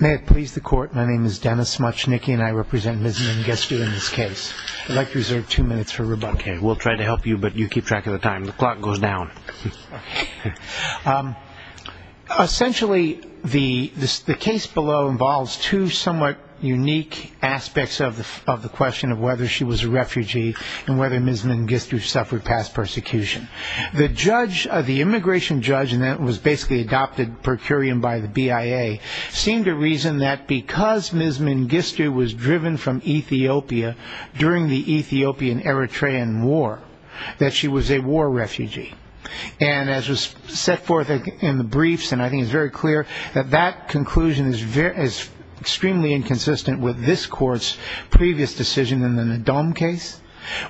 May it please the court, my name is Dennis Smuchnicki and I represent Ms. Mengistu in this case. I'd like to reserve two minutes for rebuttal. Okay, we'll try to help you, but you keep track of the time. The clock goes down. Essentially, the case below involves two somewhat unique aspects of the question of whether she was a refugee and whether Ms. Mengistu suffered past persecution. The immigration judge, and that was basically adopted per curiam by the BIA, seemed to reason that because Ms. Mengistu was driven from Ethiopia during the Ethiopian-Eritrean war, that she was a war refugee. And as was set forth in the briefs, and I think it's very clear, that that conclusion is extremely inconsistent with this court's previous decision in the Ndome case.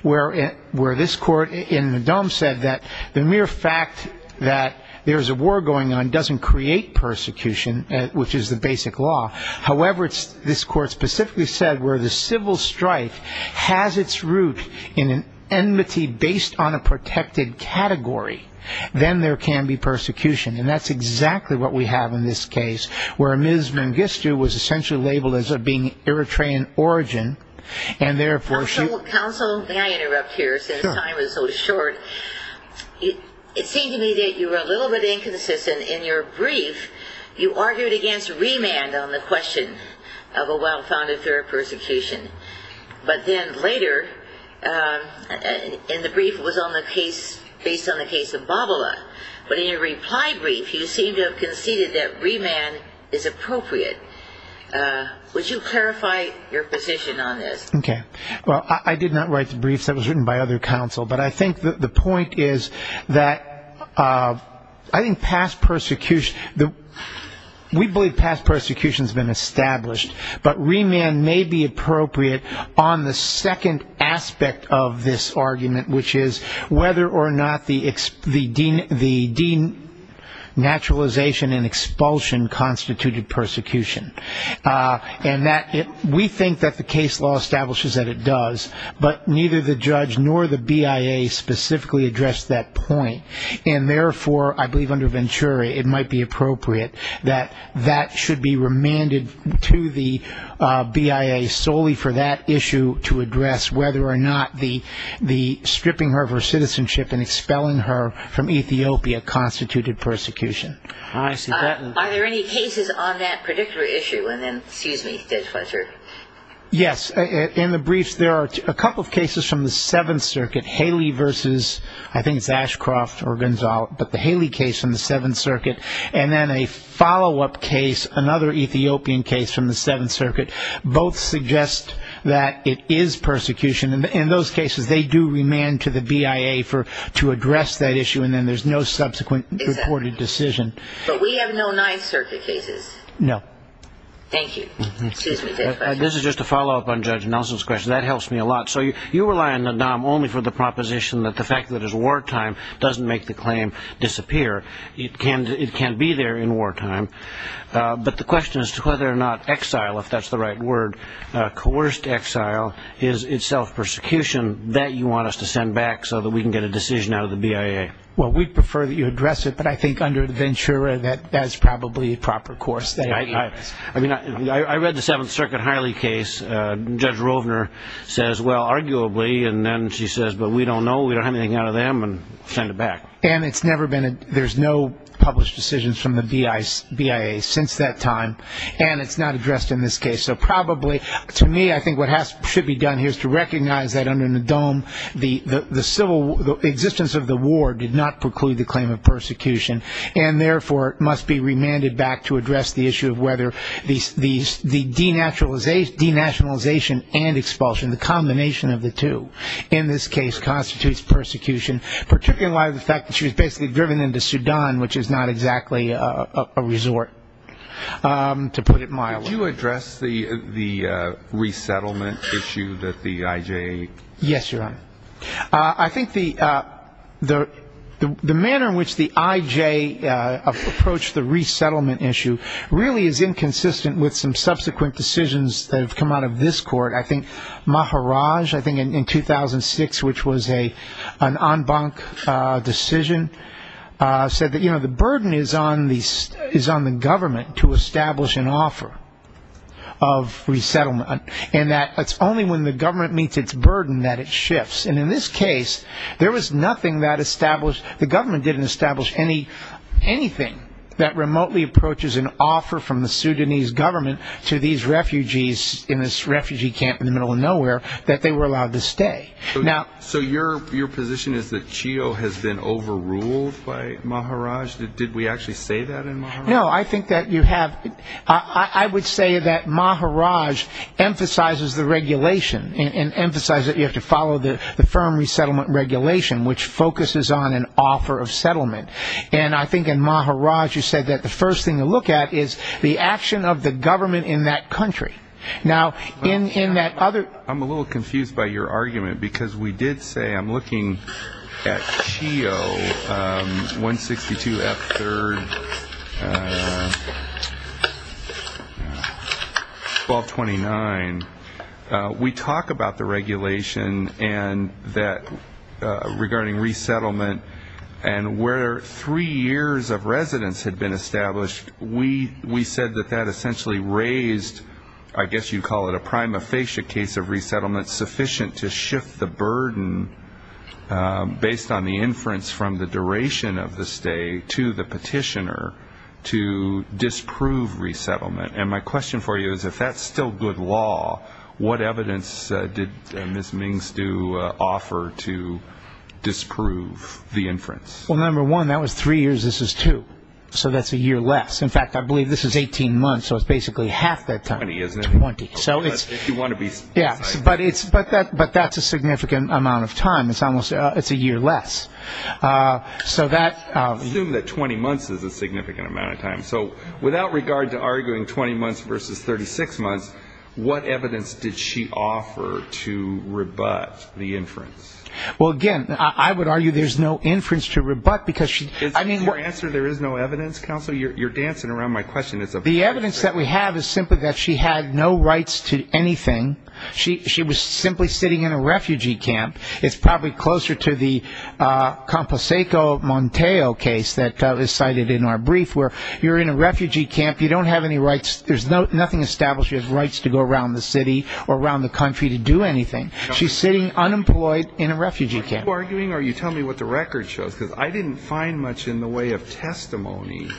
Where this court in Ndome said that the mere fact that there's a war going on doesn't create persecution, which is the basic law. However, this court specifically said where the civil strife has its root in an enmity based on a protected category, then there can be persecution. And that's exactly what we have in this case, where Ms. Mengistu was essentially labeled as being Eritrean origin, and therefore she Since time is so short, it seemed to me that you were a little bit inconsistent in your brief. You argued against remand on the question of a well-founded fear of persecution. But then later in the brief, it was based on the case of Babala. But in your reply brief, you seemed to have conceded that remand is appropriate. Would you clarify your position on this? Okay. Well, I did not write the brief. That was written by other counsel. But I think the point is that I think past persecution, we believe past persecution has been established. But remand may be appropriate on the second aspect of this argument, which is whether or not the denaturalization and expulsion constituted persecution. And we think that the case law establishes that it does, but neither the judge nor the BIA specifically addressed that point. And therefore, I believe under Venturi, it might be appropriate that that should be remanded to the BIA solely for that issue to address, whether or not the stripping her of her citizenship and expelling her from Ethiopia constituted persecution. I see that. Are there any cases on that particular issue? And then, excuse me, Judge Fletcher. Yes. In the briefs, there are a couple of cases from the Seventh Circuit, Haley versus, I think it's Ashcroft or Gonzalo, but the Haley case from the Seventh Circuit and then a follow-up case, another Ethiopian case from the Seventh Circuit. Both suggest that it is persecution. And in those cases, they do remand to the BIA to address that issue. And then there's no subsequent reported decision. But we have no Ninth Circuit cases. No. Thank you. This is just a follow-up on Judge Nelson's question. That helps me a lot. So you rely on the DOM only for the proposition that the fact that it's wartime doesn't make the claim disappear. It can be there in wartime. But the question is whether or not exile, if that's the right word, coerced exile is itself persecution that you want us to send back so that we can get a decision out of the BIA. Well, we'd prefer that you address it. But I think under Ventura, that that's probably a proper course. I mean, I read the Seventh Circuit Haley case. Judge Rovner says, well, arguably. And then she says, but we don't know. We don't have anything out of them and send it back. And there's no published decisions from the BIA since that time. And it's not addressed in this case. So probably, to me, I think what should be done here is to recognize that under the DOM, the civil existence of the war did not preclude the claim of persecution. And, therefore, it must be remanded back to address the issue of whether the denationalization and expulsion, the combination of the two, in this case constitutes persecution, particularly in light of the fact that she was basically driven into Sudan, which is not exactly a resort, to put it mildly. Did you address the resettlement issue that the IJ? Yes, Your Honor. I think the manner in which the IJ approached the resettlement issue really is inconsistent with some subsequent decisions that have come out of this court. I think Maharaj, I think in 2006, which was an en banc decision, said that the burden is on the government to establish an offer of resettlement and that it's only when the government meets its burden that it shifts. And in this case, the government didn't establish anything that remotely approaches an offer from the Sudanese government to these refugees in this refugee camp in the middle of nowhere that they were allowed to stay. So your position is that Chio has been overruled by Maharaj? Did we actually say that in Maharaj? No, I think that you have – I would say that Maharaj emphasizes the regulation and emphasizes that you have to follow the firm resettlement regulation, which focuses on an offer of settlement. And I think in Maharaj you said that the first thing to look at is the action of the government in that country. Now, in that other – I'm a little confused by your argument, because we did say – I'm looking at Chio 162F3, 1229. We talk about the regulation and that – regarding resettlement, and where three years of residence had been established, we said that that essentially raised, I guess you'd call it a prima facie case of resettlement, sufficient to shift the burden based on the inference from the duration of the stay to the petitioner to disprove resettlement. And my question for you is if that's still good law, what evidence did Ms. Mings do offer to disprove the inference? Well, number one, that was three years. This is two. So that's a year less. In fact, I believe this is 18 months, so it's basically half that time. Twenty, isn't it? Twenty. But that's a significant amount of time. It's almost – it's a year less. So that – Assume that 20 months is a significant amount of time. So without regard to arguing 20 months versus 36 months, what evidence did she offer to rebut the inference? Well, again, I would argue there's no inference to rebut because she – Is your answer there is no evidence, counsel? You're dancing around my question. The evidence that we have is simply that she had no rights to anything. She was simply sitting in a refugee camp. It's probably closer to the Composeco Monteo case that was cited in our brief where you're in a refugee camp, you don't have any rights – there's nothing established you have rights to go around the city or around the country to do anything. She's sitting unemployed in a refugee camp. Are you arguing or are you telling me what the record shows? Because I didn't find much in the way of testimony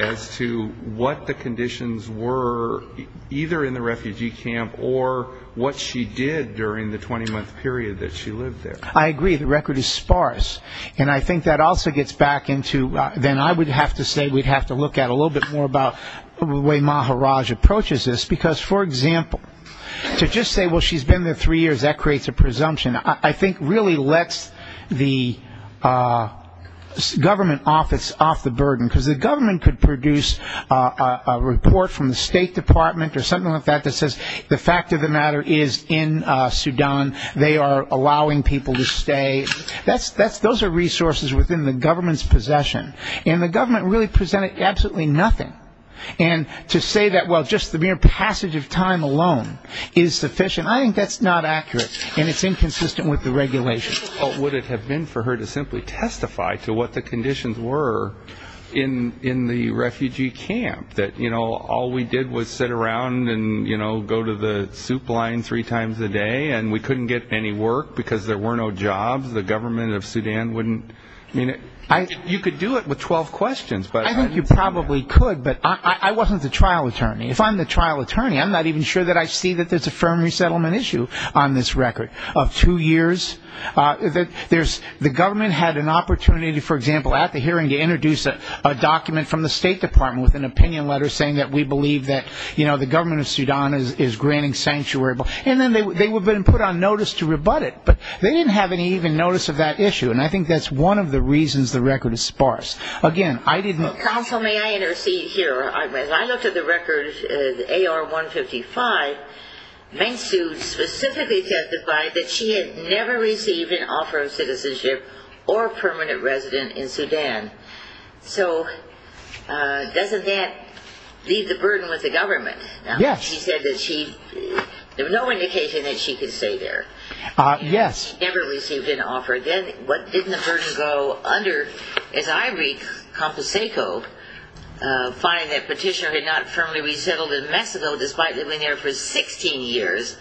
as to what the conditions were either in the refugee camp or what she did during the 20-month period that she lived there. I agree. The record is sparse. And I think that also gets back into – then I would have to say we'd have to look at a little bit more about the way Maharaj approaches this. Because, for example, to just say, well, she's been there three years, that creates a presumption. I think really lets the government office off the burden. Because the government could produce a report from the State Department or something like that that says the fact of the matter is in Sudan. They are allowing people to stay. Those are resources within the government's possession. And the government really presented absolutely nothing. And to say that, well, just the mere passage of time alone is sufficient, I think that's not accurate. And it's inconsistent with the regulations. What would it have been for her to simply testify to what the conditions were in the refugee camp? That all we did was sit around and go to the soup line three times a day, and we couldn't get any work because there were no jobs. The government of Sudan wouldn't – you could do it with 12 questions. I think you probably could, but I wasn't the trial attorney. If I'm the trial attorney, I'm not even sure that I see that there's a firm resettlement issue on this record of two years. The government had an opportunity, for example, at the hearing to introduce a document from the State Department with an opinion letter saying that we believe that the government of Sudan is granting sanctuary. And then they would have been put on notice to rebut it, but they didn't have any even notice of that issue. And I think that's one of the reasons the record is sparse. Counsel, may I intercede here? When I looked at the record, the AR-155, Meng Su specifically testified that she had never received an offer of citizenship or permanent resident in Sudan. So doesn't that leave the burden with the government? Yes. She said that she – there was no indication that she could stay there. Yes. Then what didn't the burden go under as I read Composeco finding that Petitioner had not firmly resettled in Mexico despite living there for 16 years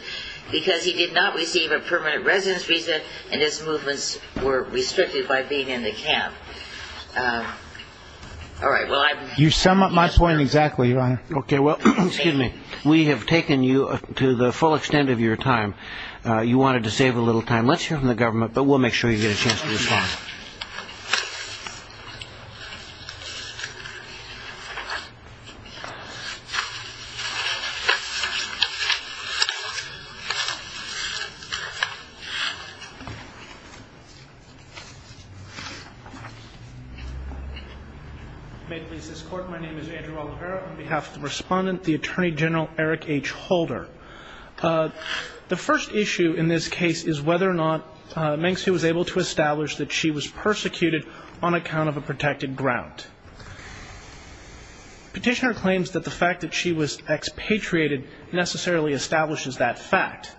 because he did not receive a permanent residence visa and his movements were restricted by being in the camp. All right. You sum up my point exactly, Your Honor. Okay. Well, excuse me. We have taken you to the full extent of your time. You wanted to save a little time. Let's hear from the government, but we'll make sure you get a chance to respond. May it please this Court, my name is Andrew Oliveira. On behalf of the Respondent, the Attorney General Eric H. Holder. The first issue in this case is whether or not Meng Tzu was able to establish that she was persecuted on account of a protected ground. Petitioner claims that the fact that she was expatriated necessarily establishes that fact.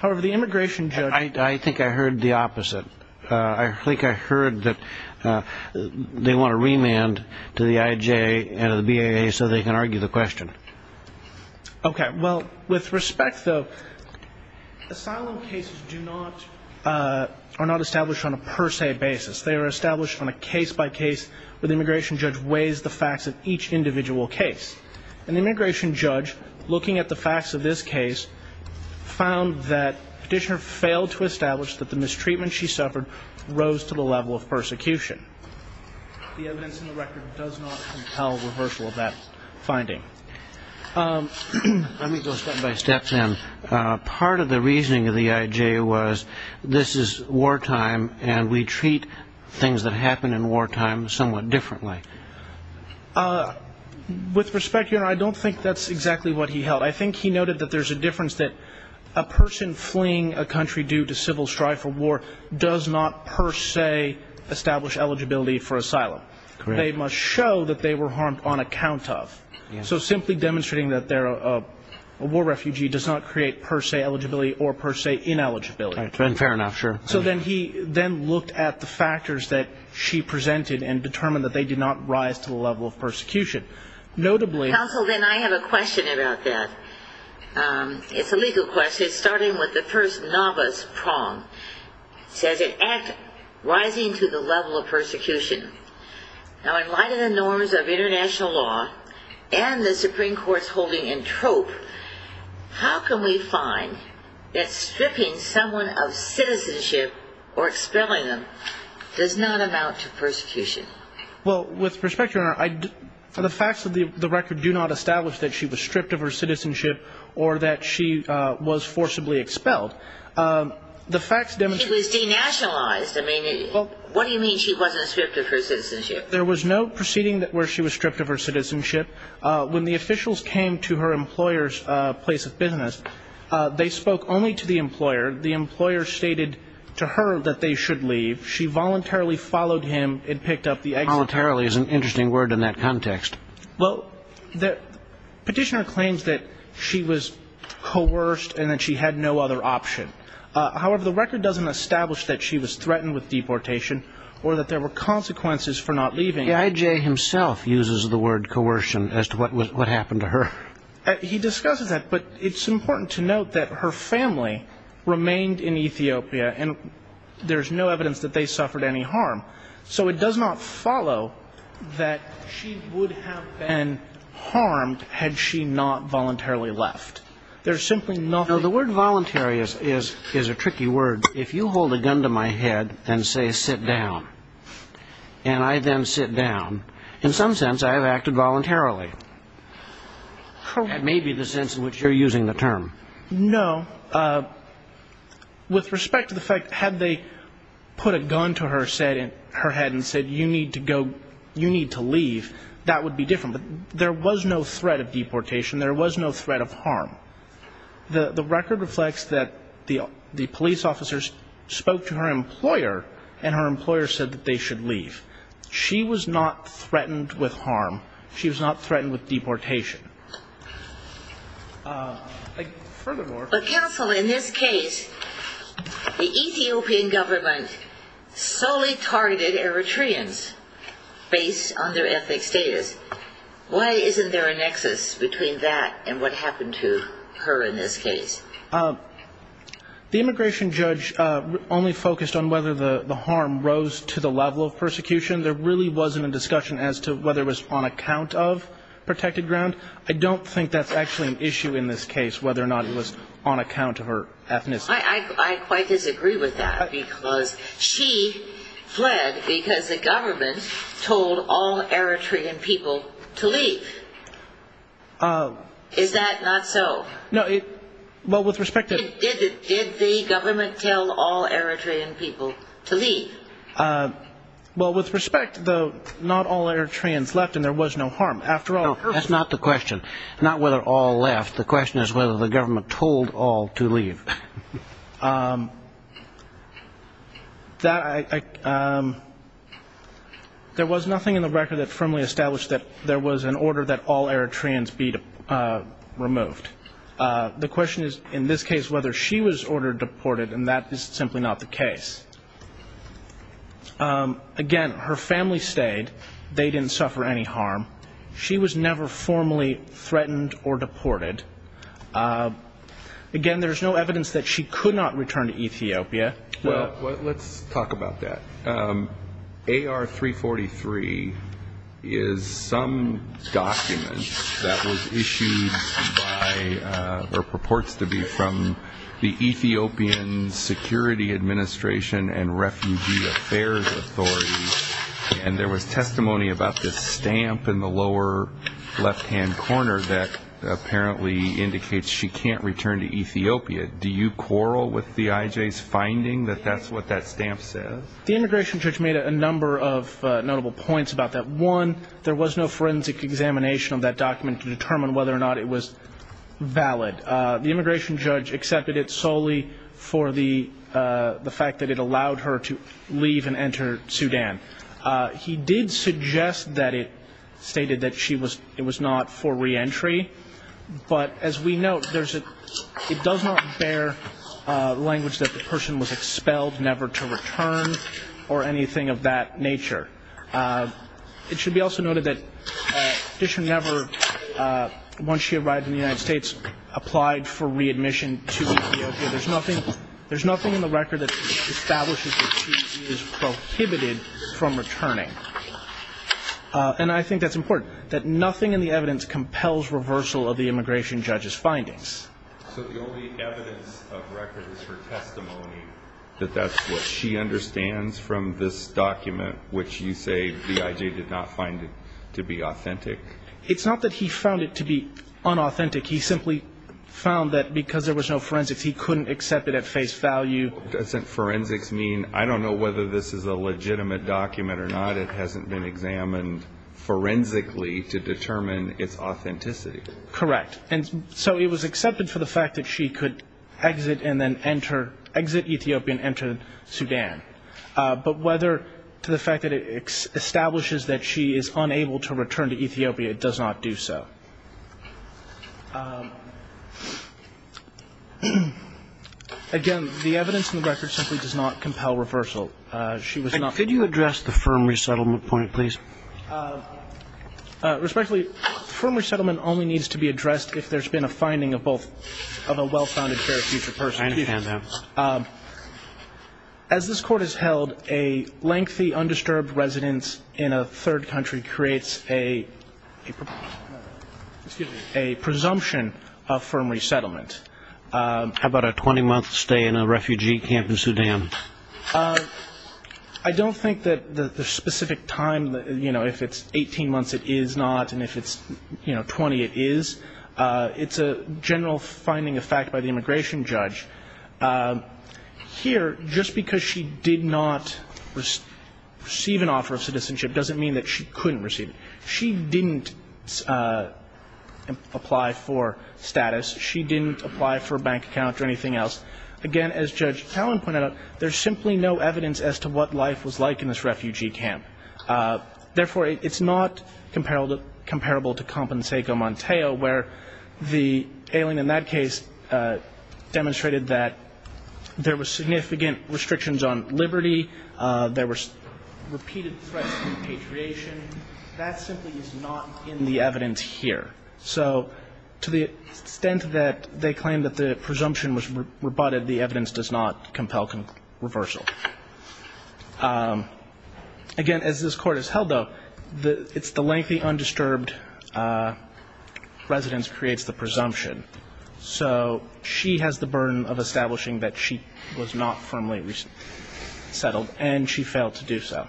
However, the immigration judge – I think I heard the opposite. I think I heard that they want a remand to the IJ and the BIA so they can argue the question. Okay. Well, with respect, though, asylum cases do not – are not established on a per se basis. They are established on a case-by-case where the immigration judge weighs the facts of each individual case. And the immigration judge, looking at the facts of this case, found that Petitioner failed to establish that the mistreatment she suffered rose to the level of persecution. The evidence in the record does not compel reversal of that finding. Let me go step-by-step then. Part of the reasoning of the IJ was this is wartime and we treat things that happen in wartime somewhat differently. With respect, Your Honor, I don't think that's exactly what he held. I think he noted that there's a difference that a person fleeing a country due to civil strife or war does not per se establish eligibility for asylum. Correct. They must show that they were harmed on account of. So simply demonstrating that they're a war refugee does not create per se eligibility or per se ineligibility. Fair enough, sure. So then he then looked at the factors that she presented and determined that they did not rise to the level of persecution. Notably – Counsel, then I have a question about that. It's a legal question. It is starting with the first novice prong. It says it acts rising to the level of persecution. Now, in light of the norms of international law and the Supreme Court's holding in trope, how can we find that stripping someone of citizenship or expelling them does not amount to persecution? Well, with respect, Your Honor, the facts of the record do not establish that she was stripped of her citizenship or that she was forcibly expelled. The facts demonstrate – She was denationalized. I mean, what do you mean she wasn't stripped of her citizenship? There was no proceeding where she was stripped of her citizenship. When the officials came to her employer's place of business, they spoke only to the employer. The employer stated to her that they should leave. She voluntarily followed him and picked up the exit. Voluntarily is an interesting word in that context. Well, the petitioner claims that she was coerced and that she had no other option. However, the record doesn't establish that she was threatened with deportation or that there were consequences for not leaving. EIJ himself uses the word coercion as to what happened to her. He discusses that, but it's important to note that her family remained in Ethiopia, and there's no evidence that they suffered any harm. So it does not follow that she would have been harmed had she not voluntarily left. There's simply nothing. Now, the word voluntary is a tricky word. If you hold a gun to my head and say, sit down, and I then sit down, in some sense I have acted voluntarily. That may be the sense in which you're using the term. No. With respect to the fact, had they put a gun to her head and said, you need to go, you need to leave, that would be different. But there was no threat of deportation. There was no threat of harm. The record reflects that the police officers spoke to her employer, and her employer said that they should leave. She was not threatened with harm. She was not threatened with deportation. Furthermore. But, counsel, in this case, the Ethiopian government solely targeted Eritreans based on their ethnic status. Why isn't there a nexus between that and what happened to her in this case? The immigration judge only focused on whether the harm rose to the level of persecution. There really wasn't a discussion as to whether it was on account of protected ground. I don't think that's actually an issue in this case, whether or not it was on account of her ethnicity. I quite disagree with that. Because she fled because the government told all Eritrean people to leave. Is that not so? No. Well, with respect to. Did the government tell all Eritrean people to leave? Well, with respect, though, not all Eritreans left and there was no harm. After all. That's not the question. Not whether all left. The question is whether the government told all to leave. There was nothing in the record that firmly established that there was an order that all Eritreans be removed. The question is, in this case, whether she was ordered deported. And that is simply not the case. Again, her family stayed. They didn't suffer any harm. She was never formally threatened or deported. Again, there's no evidence that she could not return to Ethiopia. Well, let's talk about that. AR-343 is some document that was issued by or purports to be from the Ethiopian Security Administration and Refugee Affairs Authority, and there was testimony about this stamp in the lower left-hand corner that apparently indicates she can't return to Ethiopia. Do you quarrel with the IJ's finding that that's what that stamp says? The immigration judge made a number of notable points about that. One, there was no forensic examination of that document to determine whether or not it was valid. The immigration judge accepted it solely for the fact that it allowed her to leave and enter Sudan. He did suggest that it stated that it was not for reentry. But as we note, it does not bear language that the person was expelled, never to return, or anything of that nature. It should be also noted that Dishon never, once she arrived in the United States, applied for readmission to Ethiopia. There's nothing in the record that establishes that she is prohibited from returning. And I think that's important, that nothing in the evidence compels reversal of the immigration judge's findings. So the only evidence of record is her testimony that that's what she understands from this document, which you say the IJ did not find to be authentic? It's not that he found it to be unauthentic. He simply found that because there was no forensics, he couldn't accept it at face value. Doesn't forensics mean, I don't know whether this is a legitimate document or not, it hasn't been examined forensically to determine its authenticity? Correct. And so it was accepted for the fact that she could exit and then enter, exit Ethiopia and enter Sudan. But whether to the fact that it establishes that she is unable to return to Ethiopia, it does not do so. Again, the evidence in the record simply does not compel reversal. Could you address the firm resettlement point, please? Respectfully, firm resettlement only needs to be addressed if there's been a finding of a well-founded fair future person. I understand that. As this Court has held, a lengthy undisturbed residence in a third country creates a presumption of firm resettlement. How about a 20-month stay in a refugee camp in Sudan? I don't think that the specific time, if it's 18 months, it is not, and if it's 20, it is. It's a general finding of fact by the immigration judge. Here, just because she did not receive an offer of citizenship doesn't mean that she couldn't receive it. She didn't apply for status. She didn't apply for a bank account or anything else. Again, as Judge Talen pointed out, there's simply no evidence as to what life was like in this refugee camp. Therefore, it's not comparable to Compenseco Montejo, where the ailing in that case demonstrated that there were significant restrictions on liberty, there were repeated threats of repatriation. That simply is not in the evidence here. So to the extent that they claim that the presumption was rebutted, the evidence does not compel reversal. Again, as this Court has held, though, it's the lengthy undisturbed residence creates the presumption. So she has the burden of establishing that she was not firmly resettled, and she failed to do so.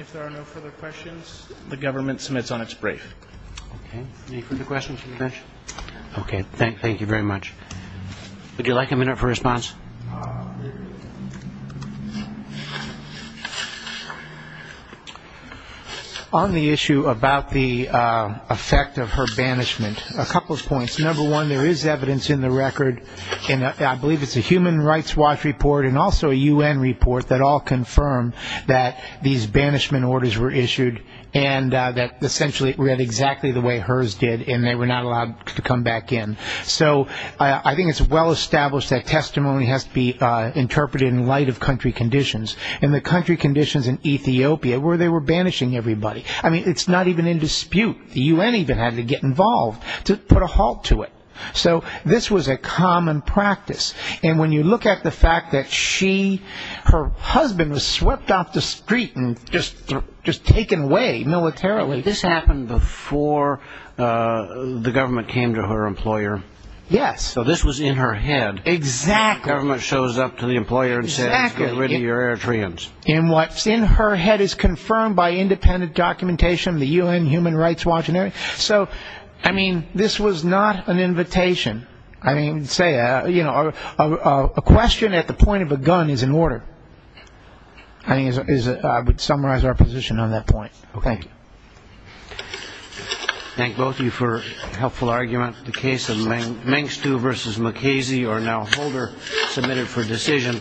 If there are no further questions, the government submits on its brief. Okay. Any further questions from the judge? Okay. Thank you very much. Would you like a minute for response? On the issue about the effect of her banishment, a couple of points. Number one, there is evidence in the record, and I believe it's a Human Rights Watch report and also a U.N. report that all confirm that these banishment orders were issued and that essentially it read exactly the way hers did, and they were not allowed to come back in. So I think it's well established that testimony has to be interpreted in light of country conditions, and the country conditions in Ethiopia where they were banishing everybody. I mean, it's not even in dispute. The U.N. even had to get involved to put a halt to it. So this was a common practice, and when you look at the fact that she, her husband, was swept off the street and just taken away militarily. This happened before the government came to her employer. Yes. So this was in her head. Exactly. The government shows up to the employer and says, get rid of your Eritreans. And what's in her head is confirmed by independent documentation of the U.N. Human Rights Watch. So, I mean, this was not an invitation. I mean, say, you know, a question at the point of a gun is an order. I would summarize our position on that point. Thank you. Thank both of you for a helpful argument. The case of Mengstu v. Mukasey, or now Holder, submitted for decision.